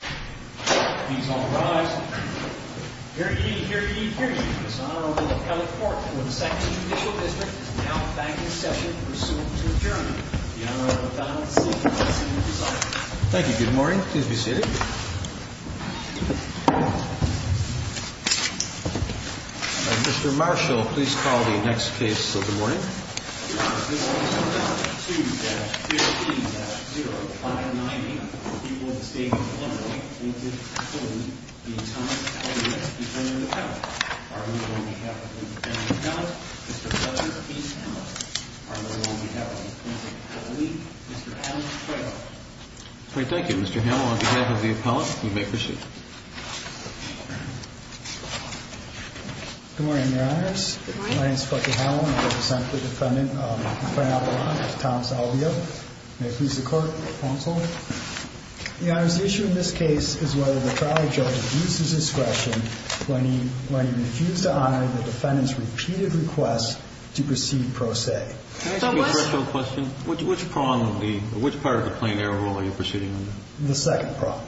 Please all rise. Here he is, here he is, here he is, His Honorable Appellate Court to the 2nd Judicial District is now back in session pursuant to adjournment. The Honorable Donald Siegel, please be seated. Thank you. Good morning. Please be seated. Mr. Marshall, please call the next case of the morning. This is Order No. 2-15-059A of the Court of Appeal of the State of New England. This is to conclude the Atonement of the Defendant Appellate. I move on behalf of the Defendant Appellate, Mr. Frederick P. Hamill. I move on behalf of the Defendant Appellate, Mr. Alex Trebek. Great, thank you. Mr. Hamill, on behalf of the Appellate, you may proceed. Good morning, Your Honors. My name is Frederick Hamill and I represent the Defendant Appellate, Mr. Thomas Albea. May it please the Court, counsel. Your Honors, the issue in this case is whether the trial judge abuses discretion when he refutes to honor the Defendant's repeated request to proceed pro se. Can I ask you a question? Which part of the plain error rule are you proceeding under? The second part.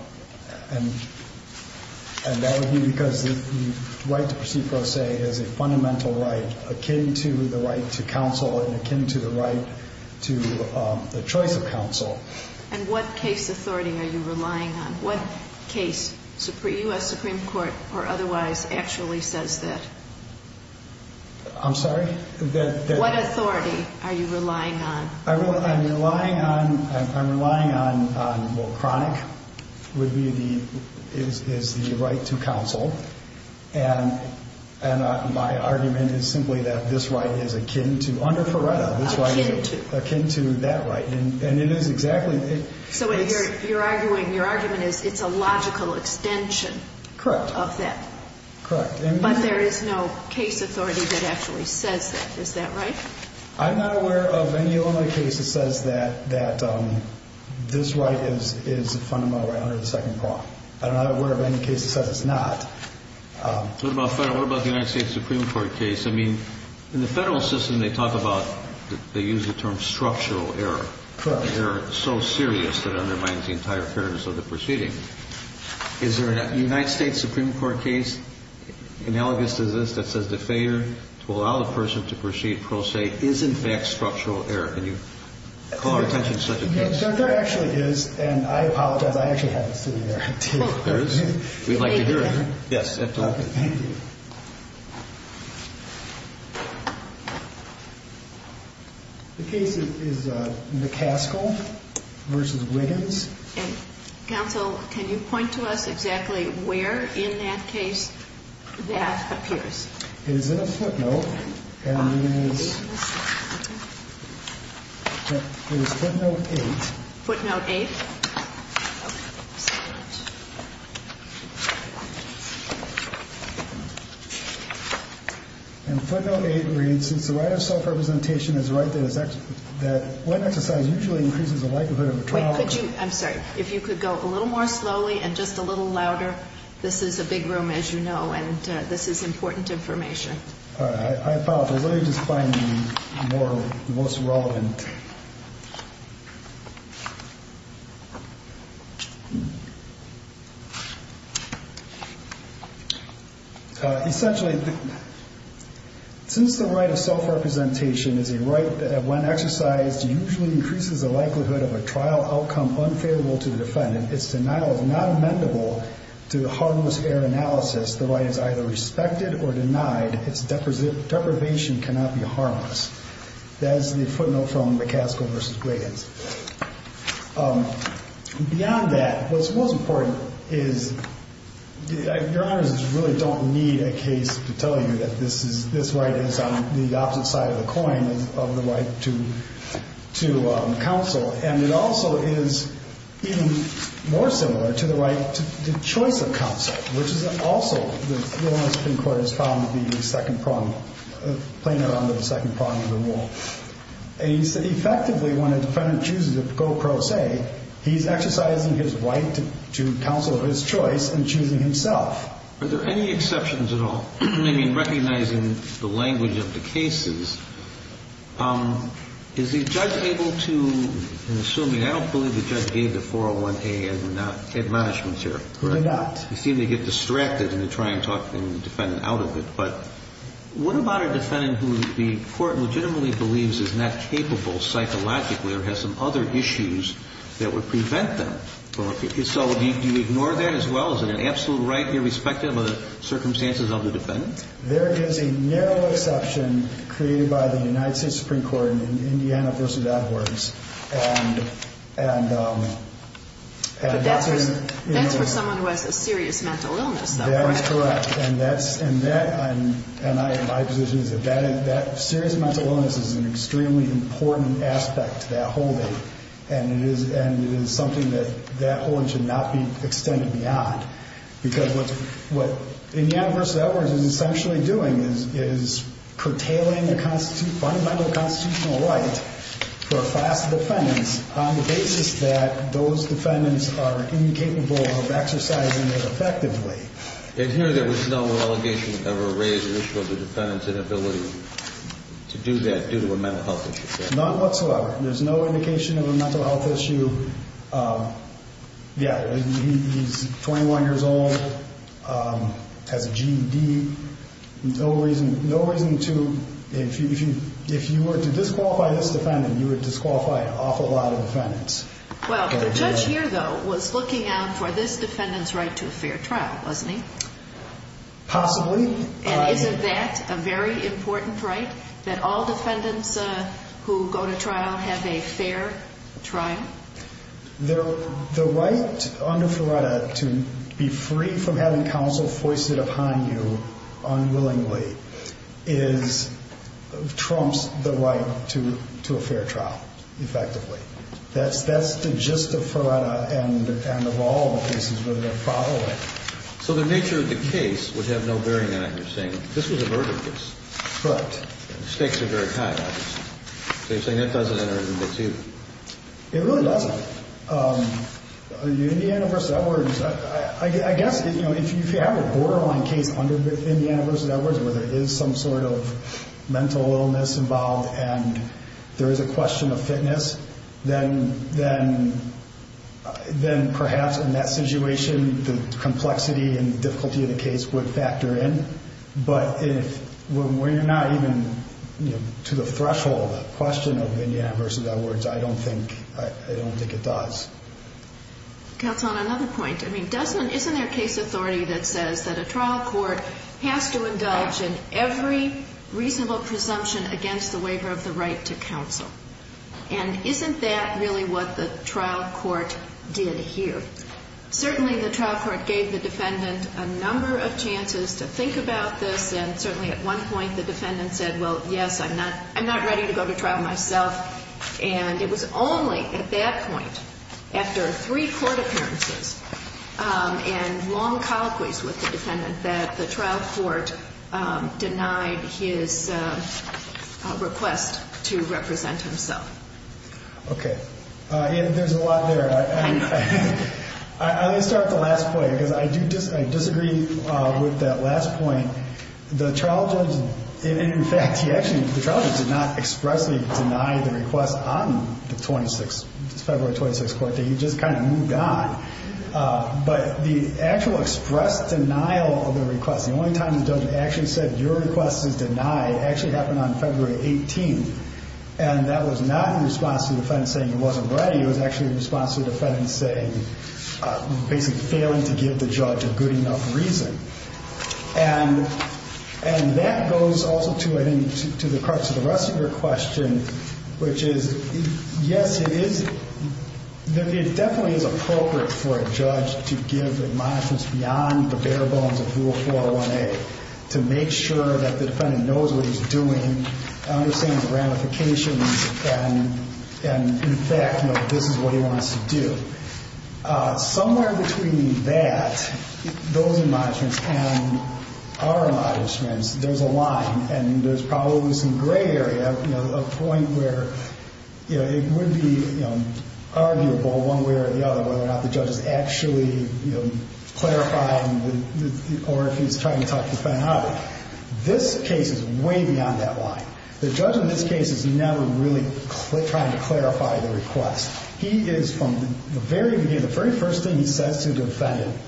And that would be because the right to proceed pro se is a fundamental right akin to the right to counsel and akin to the right to the choice of counsel. And what case authority are you relying on? What case, U.S. Supreme Court or otherwise, actually says that? I'm sorry? What authority are you relying on? I'm relying on, well, chronic would be the, is the right to counsel. And my argument is simply that this right is akin to, under Ferretta, this right is akin to that right. And it is exactly. So you're arguing, your argument is it's a logical extension of that. Correct. But there is no case authority that actually says that. Is that right? I'm not aware of any other case that says that this right is a fundamental right under the second part. I'm not aware of any case that says it's not. What about the United States Supreme Court case? I mean, in the federal system they talk about, they use the term structural error. Correct. Error so serious that it undermines the entire fairness of the proceeding. Is there a United States Supreme Court case analogous to this that says the failure to allow a person to proceed pro se is, in fact, structural error? Can you call our attention to such a case? There actually is. And I apologize, I actually have it sitting there. There is? We'd like to hear it. Yes, absolutely. Thank you. The case is McCaskill v. Wiggins. Counsel, can you point to us exactly where in that case that appears? It is in a footnote, and it is footnote 8. Footnote 8? And footnote 8 reads, since the right of self-representation is the right that one exercise usually increases the likelihood of a trial. I'm sorry, if you could go a little more slowly and just a little louder. This is a big room, as you know, and this is important information. I apologize. Let me just find the most relevant. Essentially, since the right of self-representation is a right that when exercised usually increases the likelihood of a trial outcome unfavorable to the defendant, its denial is not amendable to the harmless error analysis. The right is either respected or denied. Its deprivation cannot be harmless. That is the footnote from McCaskill v. Wiggins. Beyond that, what's most important is your honors really don't need a case to tell you that this right is on the opposite side of the coin of the right to counsel, and it also is even more similar to the right to choice of counsel, which is also the law in the Supreme Court has found to be the second prong, playing around with the second prong of the rule. Effectively, when a defendant chooses to go pro se, he's exercising his right to counsel of his choice and choosing himself. Are there any exceptions at all? I mean, recognizing the language of the cases, is the judge able to, I'm assuming, I don't believe the judge gave the 401A admonishments here. Correct. He seemed to get distracted in trying to talk the defendant out of it. But what about a defendant who the court legitimately believes is not capable psychologically or has some other issues that would prevent them? So do you ignore that as well? Is it an absolute right irrespective of the circumstances of the defendant? There is a narrow exception created by the United States Supreme Court in Indiana v. Edwards. But that's for someone who has a serious mental illness. That is correct, and my position is that serious mental illness is an extremely important aspect to that holding, and it is something that that holding should not be extended beyond, because what Indiana v. Edwards is essentially doing is curtailing the fundamental constitutional right for a class of defendants on the basis that those defendants are incapable of exercising it effectively. And here there was no allegation of a raised issue of the defendant's inability to do that due to a mental health issue? Not whatsoever. There's no indication of a mental health issue. Yeah, he's 21 years old, has a GED. No reason to, if you were to disqualify this defendant, you would disqualify an awful lot of defendants. Well, the judge here, though, was looking out for this defendant's right to a fair trial, wasn't he? Possibly. And isn't that a very important right, that all defendants who go to trial have a fair trial? The right under FERETA to be free from having counsel foisted upon you unwillingly is, trumps the right to a fair trial, effectively. That's the gist of FERETA, and of all the cases where they're following. So the nature of the case would have no bearing on it. You're saying this was a murder case. Correct. Stakes are very high, obviously. So you're saying that doesn't enter into two. It really doesn't. Indiana v. Edwards, I guess if you have a borderline case under Indiana v. Edwards, where there is some sort of mental illness involved and there is a question of fitness, then perhaps in that situation the complexity and difficulty of the case would factor in. But when we're not even to the threshold of the question of Indiana v. Edwards, I don't think it does. Counsel, on another point, isn't there a case authority that says that a trial court has to indulge in every reasonable presumption against the waiver of the right to counsel? And isn't that really what the trial court did here? Certainly the trial court gave the defendant a number of chances to think about this, and certainly at one point the defendant said, well, yes, I'm not ready to go to trial myself. And it was only at that point, after three court appearances and long colloquies with the defendant, that the trial court denied his request to represent himself. Okay. There's a lot there. I'm going to start with the last point, because I do disagree with that last point. The trial judge, in fact, the trial judge did not expressly deny the request on the February 26th court date. He just kind of moved on. But the actual express denial of the request, the only time the judge actually said your request is denied, actually happened on February 18th, and that was not in response to the defendant saying he wasn't ready. It was actually in response to the defendant saying, basically failing to give the judge a good enough reason. And that goes also to the crux of the rest of your question, which is, yes, it definitely is appropriate for a judge to give admonishments beyond the bare bones of Rule 401A, to make sure that the defendant knows what he's doing, understands the ramifications, and, in fact, this is what he wants to do. Somewhere between that, those admonishments and our admonishments, there's a line, and there's probably some gray area, a point where it would be arguable one way or the other whether or not the judge has actually clarified or if he's trying to talk the defendant out of it. This case is way beyond that line. The judge in this case is never really trying to clarify the request. He is, from the very beginning, the very first thing he says to the defendant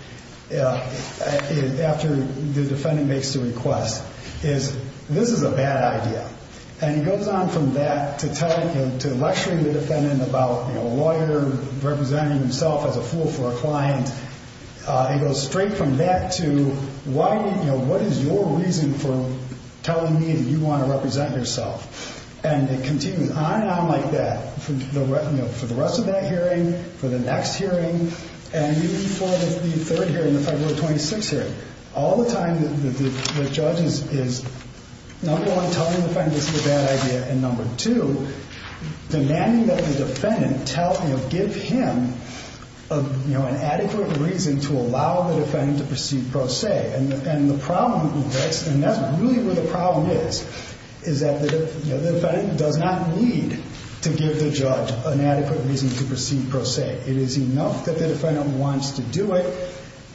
after the defendant makes the request is, this is a bad idea. And he goes on from that to lecturing the defendant about a lawyer representing himself as a fool for a client. He goes straight from that to, what is your reason for telling me that you want to represent yourself? And it continues on and on like that for the rest of that hearing, for the next hearing, and even for the third hearing, the February 26th hearing. All the time, the judge is, number one, telling the defendant this is a bad idea, and number two, demanding that the defendant give him an adequate reason to allow the defendant to proceed pro se. And the problem with this, and that's really where the problem is, is that the defendant does not need to give the judge an adequate reason to proceed pro se. It is enough that the defendant wants to do it,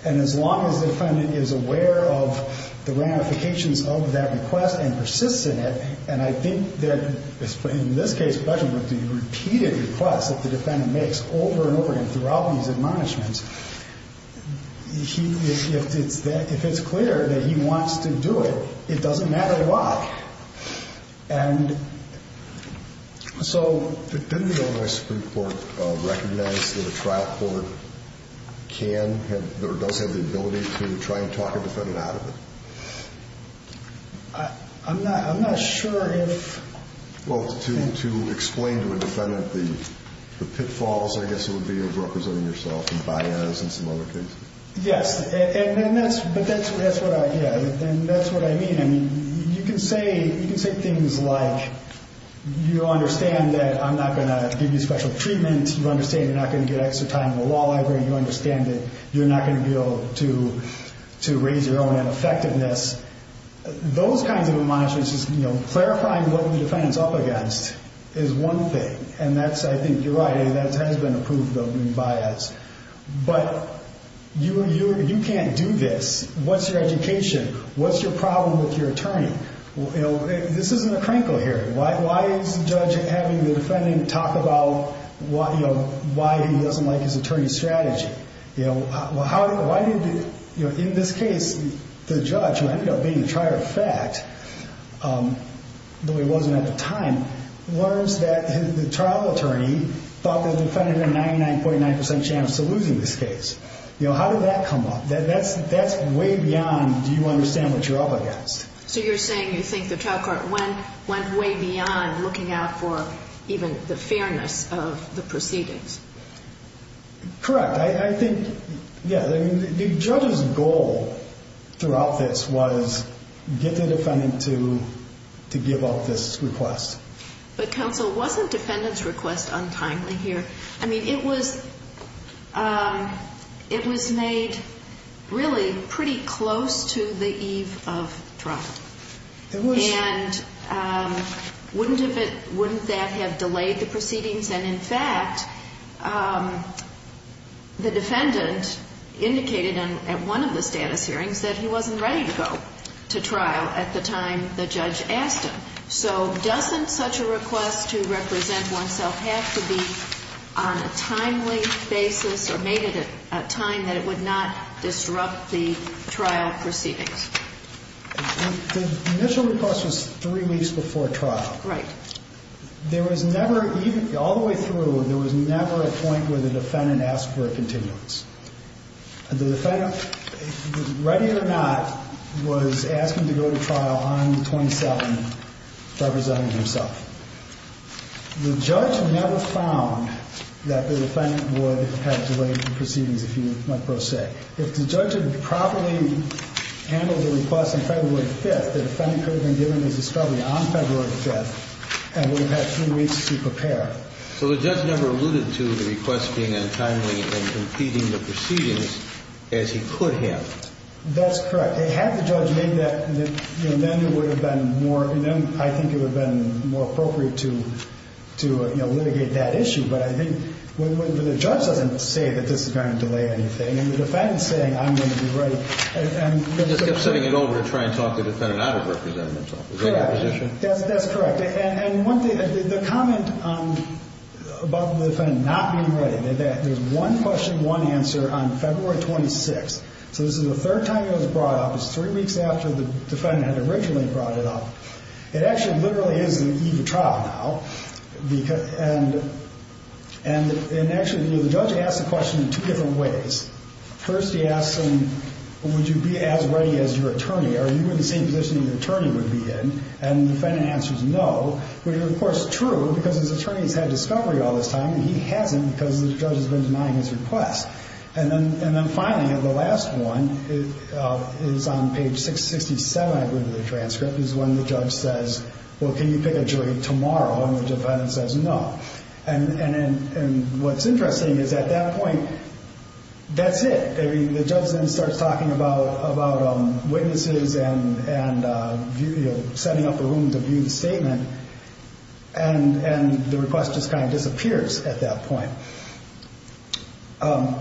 and as long as the defendant is aware of the ramifications of that request and persists in it, and I think that in this case, particularly with the repeated requests that the defendant makes over and over again throughout these admonishments, if it's clear that he wants to do it, it doesn't matter why. And so... Didn't the Ohio Supreme Court recognize that a trial court can or does have the ability to try and talk a defendant out of it? I'm not sure if... Well, to explain to a defendant the pitfalls, I guess it would be, of representing yourself in bias and some other cases. Yes, and that's what I mean. I mean, you can say things like you understand that I'm not going to give you special treatment, you understand you're not going to get extra time in the law library, you understand that you're not going to be able to raise your own effectiveness. Those kinds of admonishments, just clarifying what the defendant's up against is one thing, and I think you're right, that has been a proof of being biased. But you can't do this. What's your education? What's your problem with your attorney? This isn't a crankle hearing. Why is the judge having the defendant talk about why he doesn't like his attorney's strategy? Why did, in this case, the judge, who ended up being the trier of fact, though he wasn't at the time, learns that the trial attorney thought the defendant had a 99.9% chance of losing this case. How did that come up? That's way beyond do you understand what you're up against. So you're saying you think the trial court went way beyond looking out for even the fairness of the proceedings. Correct. I think, yeah, the judge's goal throughout this was get the defendant to give up this request. But, counsel, wasn't defendant's request untimely here? I mean, it was made really pretty close to the eve of trial. And wouldn't that have delayed the proceedings? And, in fact, the defendant indicated at one of the status hearings that he wasn't ready to go to trial at the time the judge asked him. So doesn't such a request to represent oneself have to be on a timely basis or made at a time that it would not disrupt the trial proceedings? The initial request was three weeks before trial. Right. There was never, all the way through, there was never a point where the defendant asked for a continuance. The defendant, ready or not, was asking to go to trial on the 27th, representing himself. The judge never found that the defendant would have delayed the proceedings, if you might so say. If the judge had properly handled the request on February 5th, the defendant could have been given his discovery on February 5th and would have had three weeks to prepare. So the judge never alluded to the request being untimely and impeding the proceedings as he could have. That's correct. Had the judge made that, then it would have been more, I think it would have been more appropriate to litigate that issue. But I think when the judge doesn't say that this is going to delay anything, and the defendant's saying, I'm going to be ready. He just kept sending it over to try and talk the defendant out of representing himself. Is that your position? That's correct. And the comment about the defendant not being ready, there's one question, one answer on February 26th. So this is the third time it was brought up. It's three weeks after the defendant had originally brought it up. It actually literally is the eve of trial now. And actually, the judge asked the question in two different ways. First, he asked him, would you be as ready as your attorney? Are you in the same position that your attorney would be in? And the defendant answers no, which is, of course, true because his attorney has had discovery all this time, and he hasn't because the judge has been denying his request. And then finally, the last one is on page 667, I believe, of the transcript, is when the judge says, well, can you pick a jury tomorrow? And the defendant says no. And what's interesting is at that point, that's it. The judge then starts talking about witnesses and setting up a room to view the statement, and the request just kind of disappears at that point. My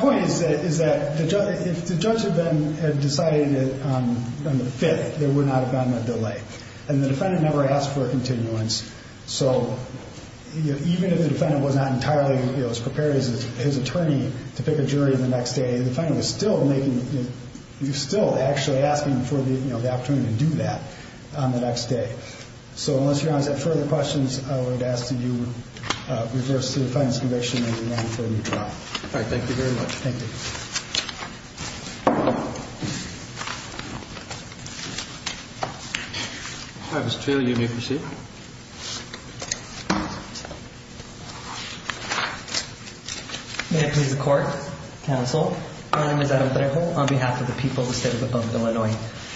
point is that if the judge had then decided on the 5th, there would not have been a delay. And the defendant never asked for a continuance. So even if the defendant was not entirely as prepared as his attorney to pick a jury the next day, the defendant was still making the ‑‑ he was still actually asking for the opportunity to do that on the next day. So unless you guys have further questions, I would ask that you reverse the defendant's conviction and remain for a new trial. All right. Thank you very much. Thank you. All right. Mr. Taylor, you may proceed. May it please the Court, Counsel, my name is Adam Blair on behalf of the people of the State of Illinois.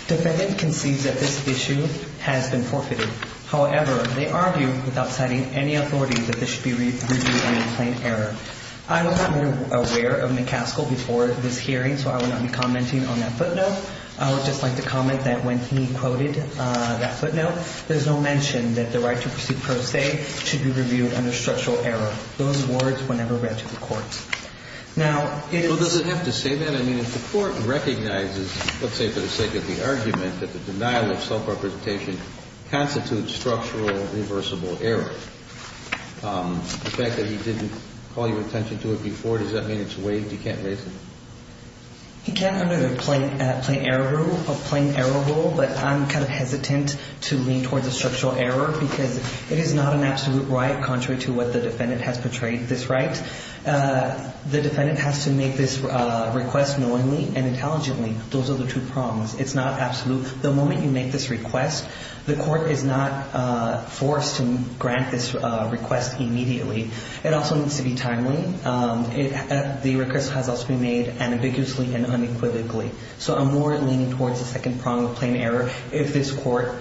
Defendant concedes that this issue has been forfeited. However, they argue without citing any authority that this should be reviewed as a plain error. I was not aware of McCaskill before this hearing, so I will not be commenting on that footnote. I would just like to comment that when he quoted that footnote, there's no mention that the right to proceed pro se should be reviewed under structural error. Those words were never read to the Court. Now, it is ‑‑ Well, does it have to say that? I mean, if the Court recognizes, let's say for the sake of the argument, that the denial of self‑representation constitutes structural reversible error, the fact that he didn't call your attention to it before, does that mean it's waived? He can't raise it? He can't under the plain error rule, but I'm kind of hesitant to lean towards a structural error because it is not an absolute right, contrary to what the defendant has portrayed this right. The defendant has to make this request knowingly and intelligently. Those are the two prongs. It's not absolute. The moment you make this request, the Court is not forced to grant this request immediately. It also needs to be timely. The request has also been made ambiguously and unequivocally. So I'm more leaning towards the second prong of plain error. If this Court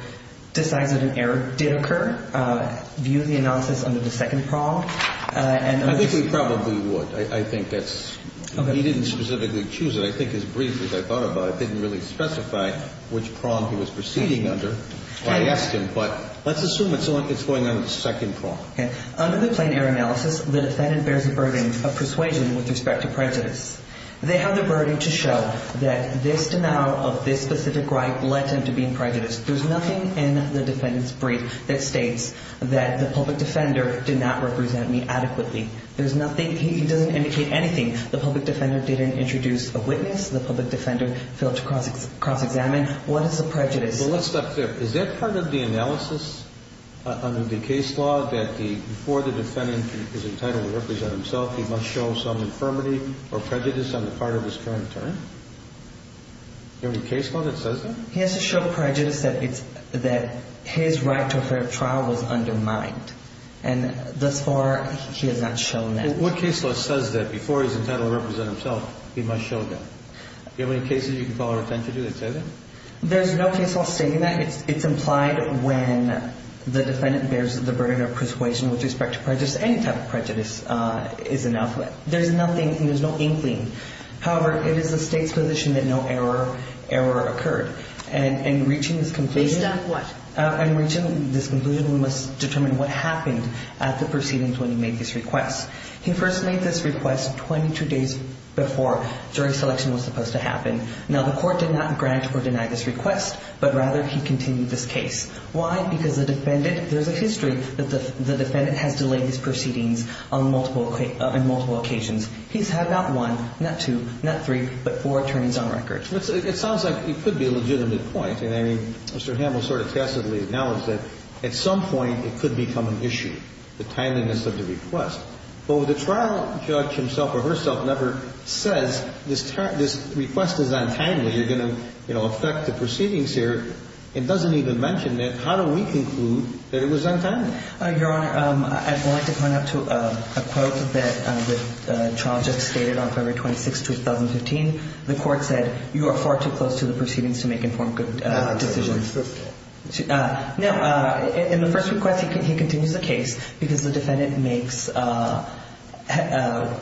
decides that an error did occur, view the analysis under the second prong. I think we probably would. I think that's ‑‑ he didn't specifically choose it. I think his brief, as I thought about it, didn't really specify which prong he was proceeding under. I asked him, but let's assume it's going under the second prong. Under the plain error analysis, the defendant bears the burden of persuasion with respect to prejudice. They have the burden to show that this denial of this specific right led them to being prejudiced. There's nothing in the defendant's brief that states that the public defender did not represent me adequately. There's nothing. He doesn't indicate anything. The public defender didn't introduce a witness. The public defender failed to cross‑examine. What is the prejudice? Well, let's stop there. Is that part of the analysis under the case law that before the defendant is entitled to represent himself, he must show some infirmity or prejudice on the part of his current attorney? Is there any case law that says that? He has to show prejudice that his right to a fair trial was undermined. And thus far, he has not shown that. What case law says that before he's entitled to represent himself, he must show that? Do you have any cases you can call our attention to that say that? There's no case law stating that. It's implied when the defendant bears the burden of persuasion with respect to prejudice. Any type of prejudice is an alphabet. There's nothing. There's no inkling. However, it is the State's position that no error occurred. And in reaching this conclusion ‑‑ Based on what? In reaching this conclusion, we must determine what happened at the proceedings when he made this request. He first made this request 22 days before, during selection was supposed to happen. Now, the Court did not grant or deny this request, but rather he continued this case. Why? Because the defendant ‑‑ there's a history that the defendant has delayed these proceedings on multiple occasions. He's had not one, not two, not three, but four attorneys on record. It sounds like it could be a legitimate point. And, I mean, Mr. Hamill sort of tacitly acknowledged that at some point it could become an issue, the timeliness of the request. But when the trial judge himself or herself never says this request is untimely, you're going to, you know, affect the proceedings here, it doesn't even mention that how do we conclude that it was untimely? Your Honor, I'd like to point out a quote that the trial just stated on February 26, 2015. The Court said, you are far too close to the proceedings to make informed decisions. Now, in the first request he continues the case because the defendant makes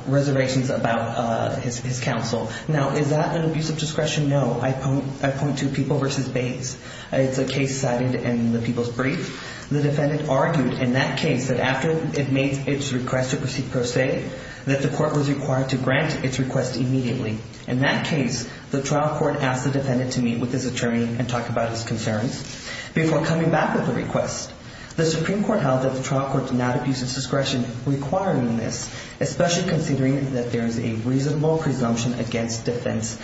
reservations about his counsel. Now, is that an abuse of discretion? No. I point to People v. Bates. It's a case cited in the People's Brief. The defendant argued in that case that after it made its request to proceed pro se that the Court was required to grant its request immediately. In that case, the trial court asked the defendant to meet with his attorney and talk about his concerns before coming back with a request. The Supreme Court held that the trial court did not abuse its discretion requiring this, especially considering that there is a reasonable presumption against defense's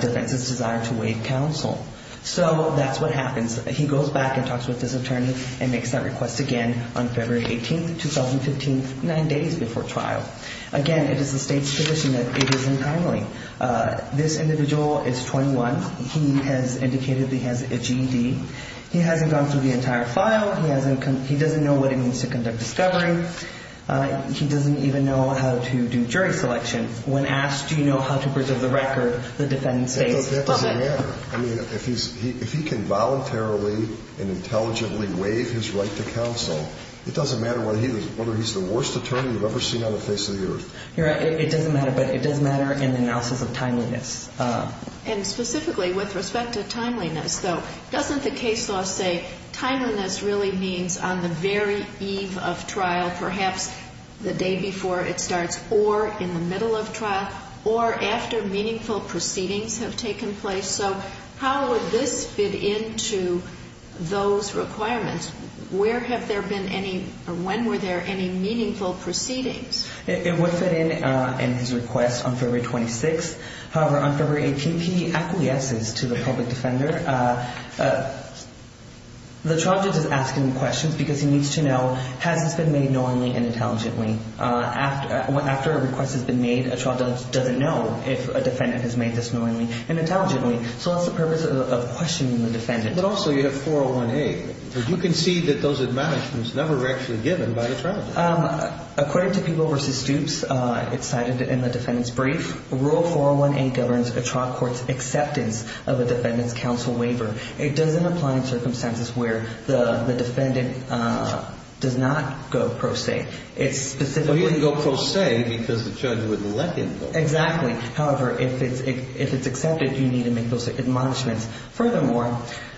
desire to waive counsel. So that's what happens. He goes back and talks with his attorney and makes that request again on February 18, 2015, nine days before trial. Again, it is the State's position that it is entirely. This individual is 21. He has indicated he has a GED. He hasn't gone through the entire file. He doesn't know what it means to conduct discovery. He doesn't even know how to do jury selection. When asked, do you know how to preserve the record, the defendant says, probably. That doesn't matter. I mean, if he can voluntarily and intelligently waive his right to counsel, it doesn't matter whether he's the worst attorney you've ever seen on the face of the earth. You're right. It doesn't matter. But it does matter in the analysis of timeliness. And specifically with respect to timeliness, though, doesn't the case law say timeliness really means on the very eve of trial, perhaps the day before it starts, or in the middle of trial, or after meaningful proceedings have taken place? So how would this fit into those requirements? Where have there been any or when were there any meaningful proceedings? It would fit in in his request on February 26th. However, on February 18th, he acquiesces to the public defender. The trial judge is asking questions because he needs to know, has this been made knowingly and intelligently? After a request has been made, a trial judge doesn't know if a defendant has made this knowingly and intelligently. So that's the purpose of questioning the defendant. But also you have 401A. You can see that those admonishments never were actually given by the trial judge. According to People v. Stoops, it's cited in the defendant's brief, Rule 401A governs a trial court's acceptance of a defendant's counsel waiver. It doesn't apply in circumstances where the defendant does not go pro se. It's specifically- Well, he didn't go pro se because the judge wouldn't let him go. Exactly. However, if it's accepted, you need to make those admonishments. Furthermore,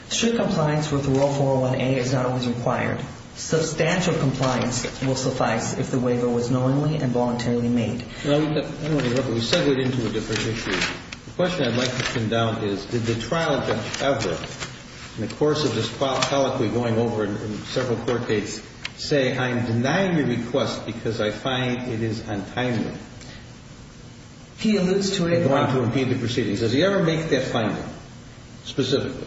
strict compliance with Rule 401A is not always required. Substantial compliance will suffice if the waiver was knowingly and voluntarily made. I don't want to interrupt, but we segwayed into a different issue. The question I'd like to bring down is, did the trial judge ever, in the course of this colloquy going over in several court dates, say, I'm denying your request because I find it is untimely? He alludes to a- I'm going to impede the proceedings. Does he ever make that finding specifically?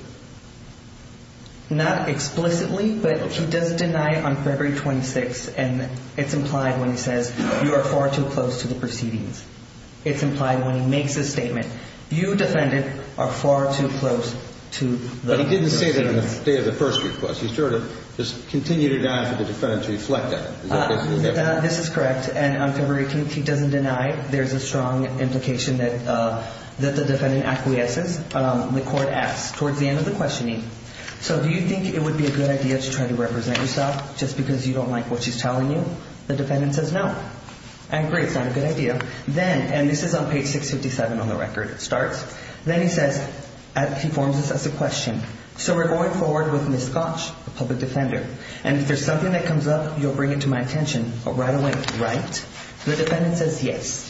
Not explicitly, but he does deny on February 26th, and it's implied when he says you are far too close to the proceedings. It's implied when he makes a statement. You, defendant, are far too close to the proceedings. But he didn't say that on the day of the first request. He sort of just continued it on for the defendant to reflect on it. This is correct. And on February 18th, he doesn't deny. There's a strong implication that the defendant acquiesces. The court asks, towards the end of the questioning, so do you think it would be a good idea to try to represent yourself just because you don't like what she's telling you? The defendant says no. And great, it's not a good idea. Then, and this is on page 657 on the record, it starts. Then he says, he forms this as a question. So we're going forward with Ms. Scotch, the public defender. And if there's something that comes up, you'll bring it to my attention. But right away, right? The defendant says yes.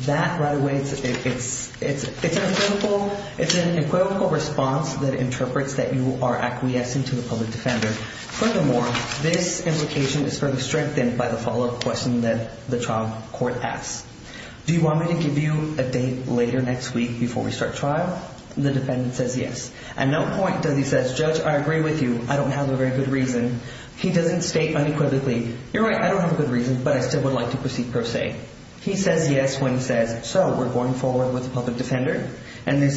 That right away, it's an equivocal response that interprets that you are acquiescing to the public defender. Furthermore, this implication is further strengthened by the follow-up question that the trial court asks. Do you want me to give you a date later next week before we start trial? The defendant says yes. At no point does he say, Judge, I agree with you. I don't have a very good reason. He doesn't state unequivocally, you're right, I don't have a good reason, but I still would like to proceed per se. He says yes when he says, so we're going forward with the public defender. And if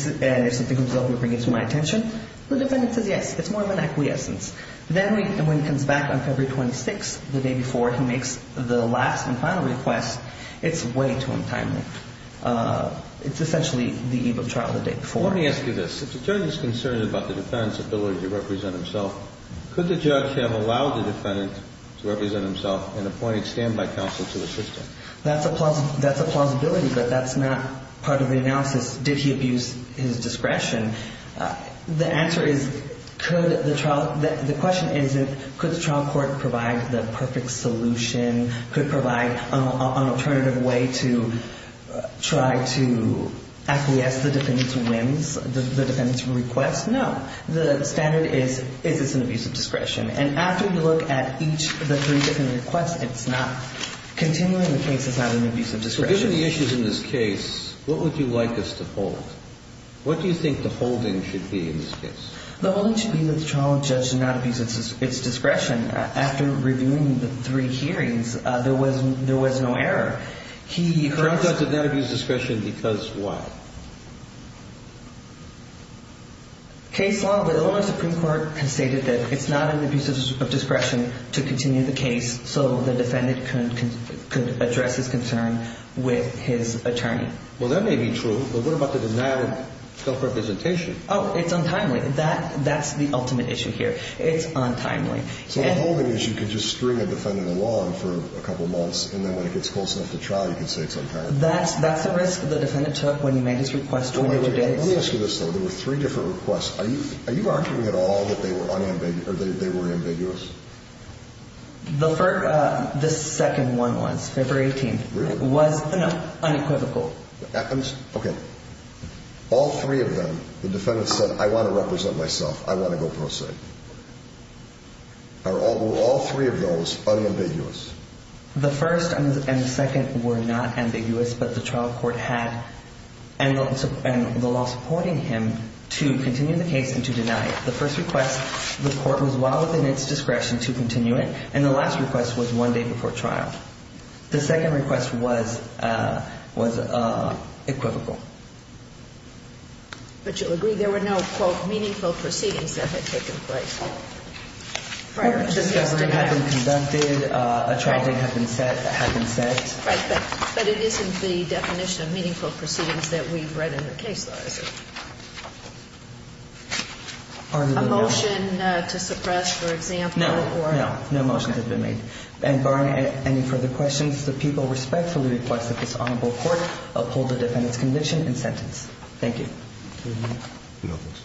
something comes up, you'll bring it to my attention. The defendant says yes. It's more of an acquiescence. Then when he comes back on February 26th, the day before, he makes the last and final request. It's way too untimely. It's essentially the eve of trial the day before. Let me ask you this. If the judge is concerned about the defendant's ability to represent himself, could the judge have allowed the defendant to represent himself and appointed standby counsel to assist him? That's a plausibility, but that's not part of the analysis. Did he abuse his discretion? The answer is could the trial – the question isn't, could the trial court provide the perfect solution, No. The standard is, is this an abuse of discretion? And after you look at each of the three different requests, it's not – continuing the case is not an abuse of discretion. Given the issues in this case, what would you like us to hold? What do you think the holding should be in this case? The holding should be that the trial judge did not abuse its discretion. After reviewing the three hearings, there was no error. The trial judge did not abuse discretion because why? Case law, the Illinois Supreme Court has stated that it's not an abuse of discretion to continue the case so the defendant could address his concern with his attorney. Well, that may be true, but what about the denial of self-representation? Oh, it's untimely. That's the ultimate issue here. It's untimely. So the holding is you could just string a defendant along for a couple months and then when it gets close enough to trial, you can say it's untimely. That's the risk the defendant took when he made his request 202 days. Let me ask you this, though. There were three different requests. Are you arguing at all that they were unambiguous or they were ambiguous? The second one was, February 18th. Really? It was unequivocal. It happens? Okay. All three of them, the defendant said, I want to represent myself. I want to go pro se. Are all three of those unambiguous? The first and the second were not ambiguous, but the trial court had and the law supporting him to continue the case and to deny it. The first request, the court was well within its discretion to continue it, and the last request was one day before trial. The second request was equivocal. But you'll agree there were no, quote, meaningful proceedings that had taken place prior to this? A hearing had been conducted, a trial date had been set. Right, but it isn't the definition of meaningful proceedings that we've read in the case law, is it? A motion to suppress, for example? No. No. No motions have been made. And barring any further questions, the people respectfully request that this honorable court uphold the defendant's conviction and sentence. Thank you.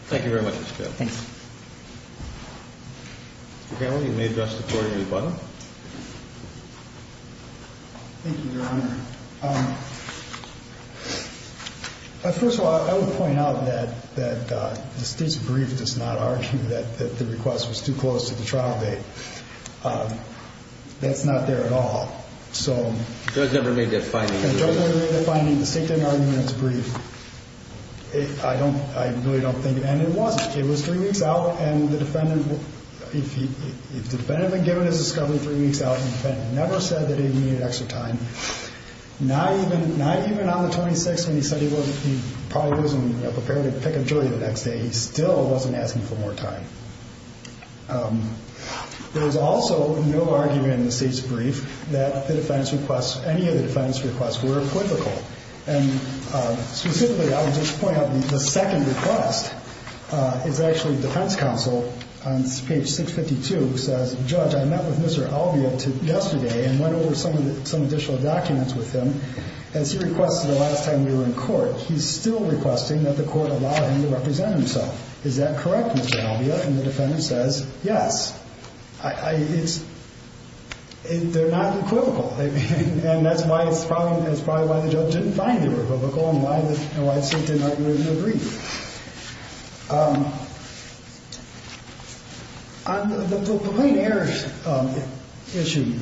Thank you very much, Mr. Carroll. Thanks. Mr. Carroll, you may address the court at your button. Thank you, Your Honor. First of all, I would point out that the State's brief does not argue that the request was too close to the trial date. That's not there at all. So the State didn't argue in its brief. I really don't think, and it wasn't. It was three weeks out, and the defendant, if the defendant had been given his discovery three weeks out, the defendant never said that he needed extra time. Not even on the 26th when he said he probably wasn't prepared to pick a jury the next day. He still wasn't asking for more time. There was also no argument in the State's brief that the defendant's requests, any of the defendant's requests, were equivocal. And specifically, I would just point out the second request is actually defense counsel on page 652 who says, Judge, I met with Mr. Alvia yesterday and went over some additional documents with him. As he requested the last time we were in court, he's still requesting that the court allow him to represent himself. Is that correct, Mr. Alvia? And the defendant says, yes. They're not equivocal. And that's why it's probably why the judge didn't find it revocable and why the State didn't argue in the brief. On the complaint error issue,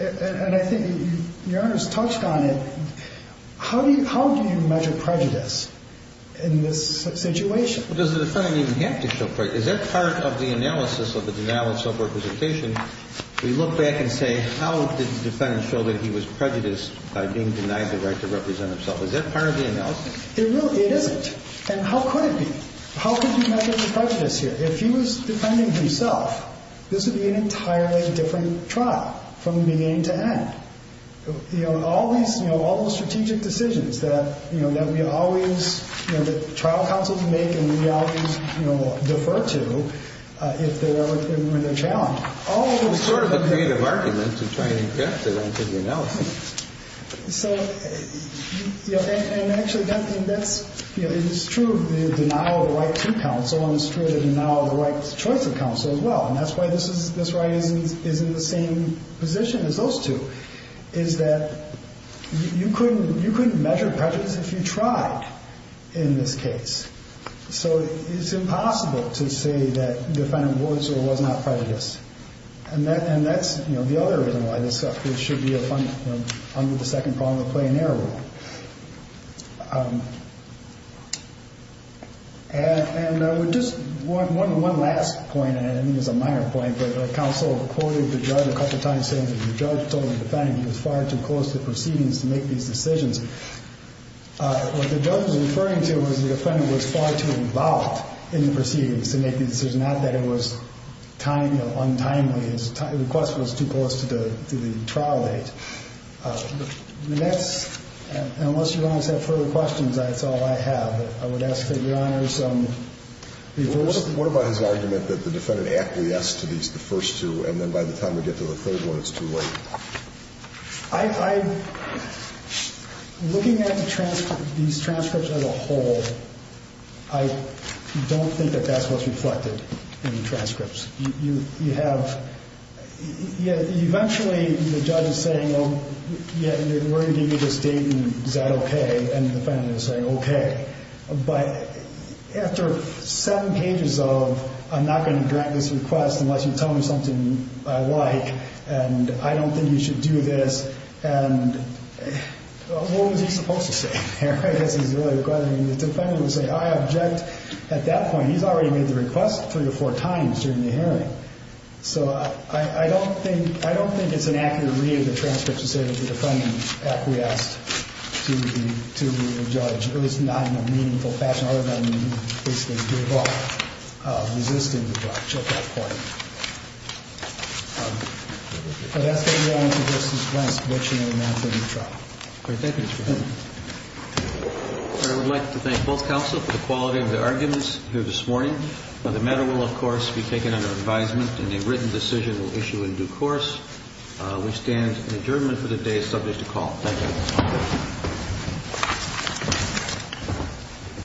and I think Your Honor's touched on it, how do you measure prejudice in this situation? Well, does the defendant even have to show prejudice? Is that part of the analysis of the denial of self-representation? We look back and say, how did the defendant show that he was prejudiced by being denied the right to represent himself? Is that part of the analysis? It really isn't. And how could it be? How could you measure the prejudice here? If he was defending himself, this would be an entirely different trial from beginning to end. You know, all these, you know, all those strategic decisions that, you know, that we always, you know, It's sort of a creative argument to try and inject it into the analysis. So, you know, and actually that's, you know, it's true the denial of the right to counsel and it's true the denial of the right to choice of counsel as well. And that's why this is, this right is in the same position as those two, is that you couldn't, you couldn't measure prejudice if you tried in this case. So it's impossible to say that the defendant was or was not prejudiced. And that's, you know, the other reason why this should be under the second problem of play and error rule. And I would just, one last point, and I think it's a minor point, but counsel quoted the judge a couple of times saying that the judge told the defendant he was far too close to proceedings to make these decisions. What the judge was referring to was the defendant was far too involved in the proceedings to make the decision, not that it was time, you know, untimely. His request was too close to the trial date. And that's, unless Your Honor has further questions, that's all I have. I would ask that Your Honor's reverse. What about his argument that the defendant acquiesced to these, the first two, and then by the time we get to the third one, it's too late? I, looking at the transcript, these transcripts as a whole, I don't think that that's what's reflected in the transcripts. You have, yeah, eventually the judge is saying, oh, yeah, you're going to give me this date, and is that okay? And the defendant is saying, okay. But after seven pages of, I'm not going to grant this request unless you tell me something I like, and I don't think you should do this, and what was he supposed to say? I guess he's really regretting it. I mean, the defendant would say, I object. At that point, he's already made the request three or four times during the hearing. So I don't think, I don't think it's an accurate read of the transcripts to say that the defendant acquiesced to the judge. It was not in a meaningful fashion, other than he basically gave up resisting the judge at that point. But that's what we want to reverse this request, which, you know, amounts to a new trial. Thank you, Your Honor. I would like to thank both counsel for the quality of their arguments here this morning. The matter will, of course, be taken under advisement, and a written decision will issue in due course. We stand in adjournment for the day subject to call. Thank you.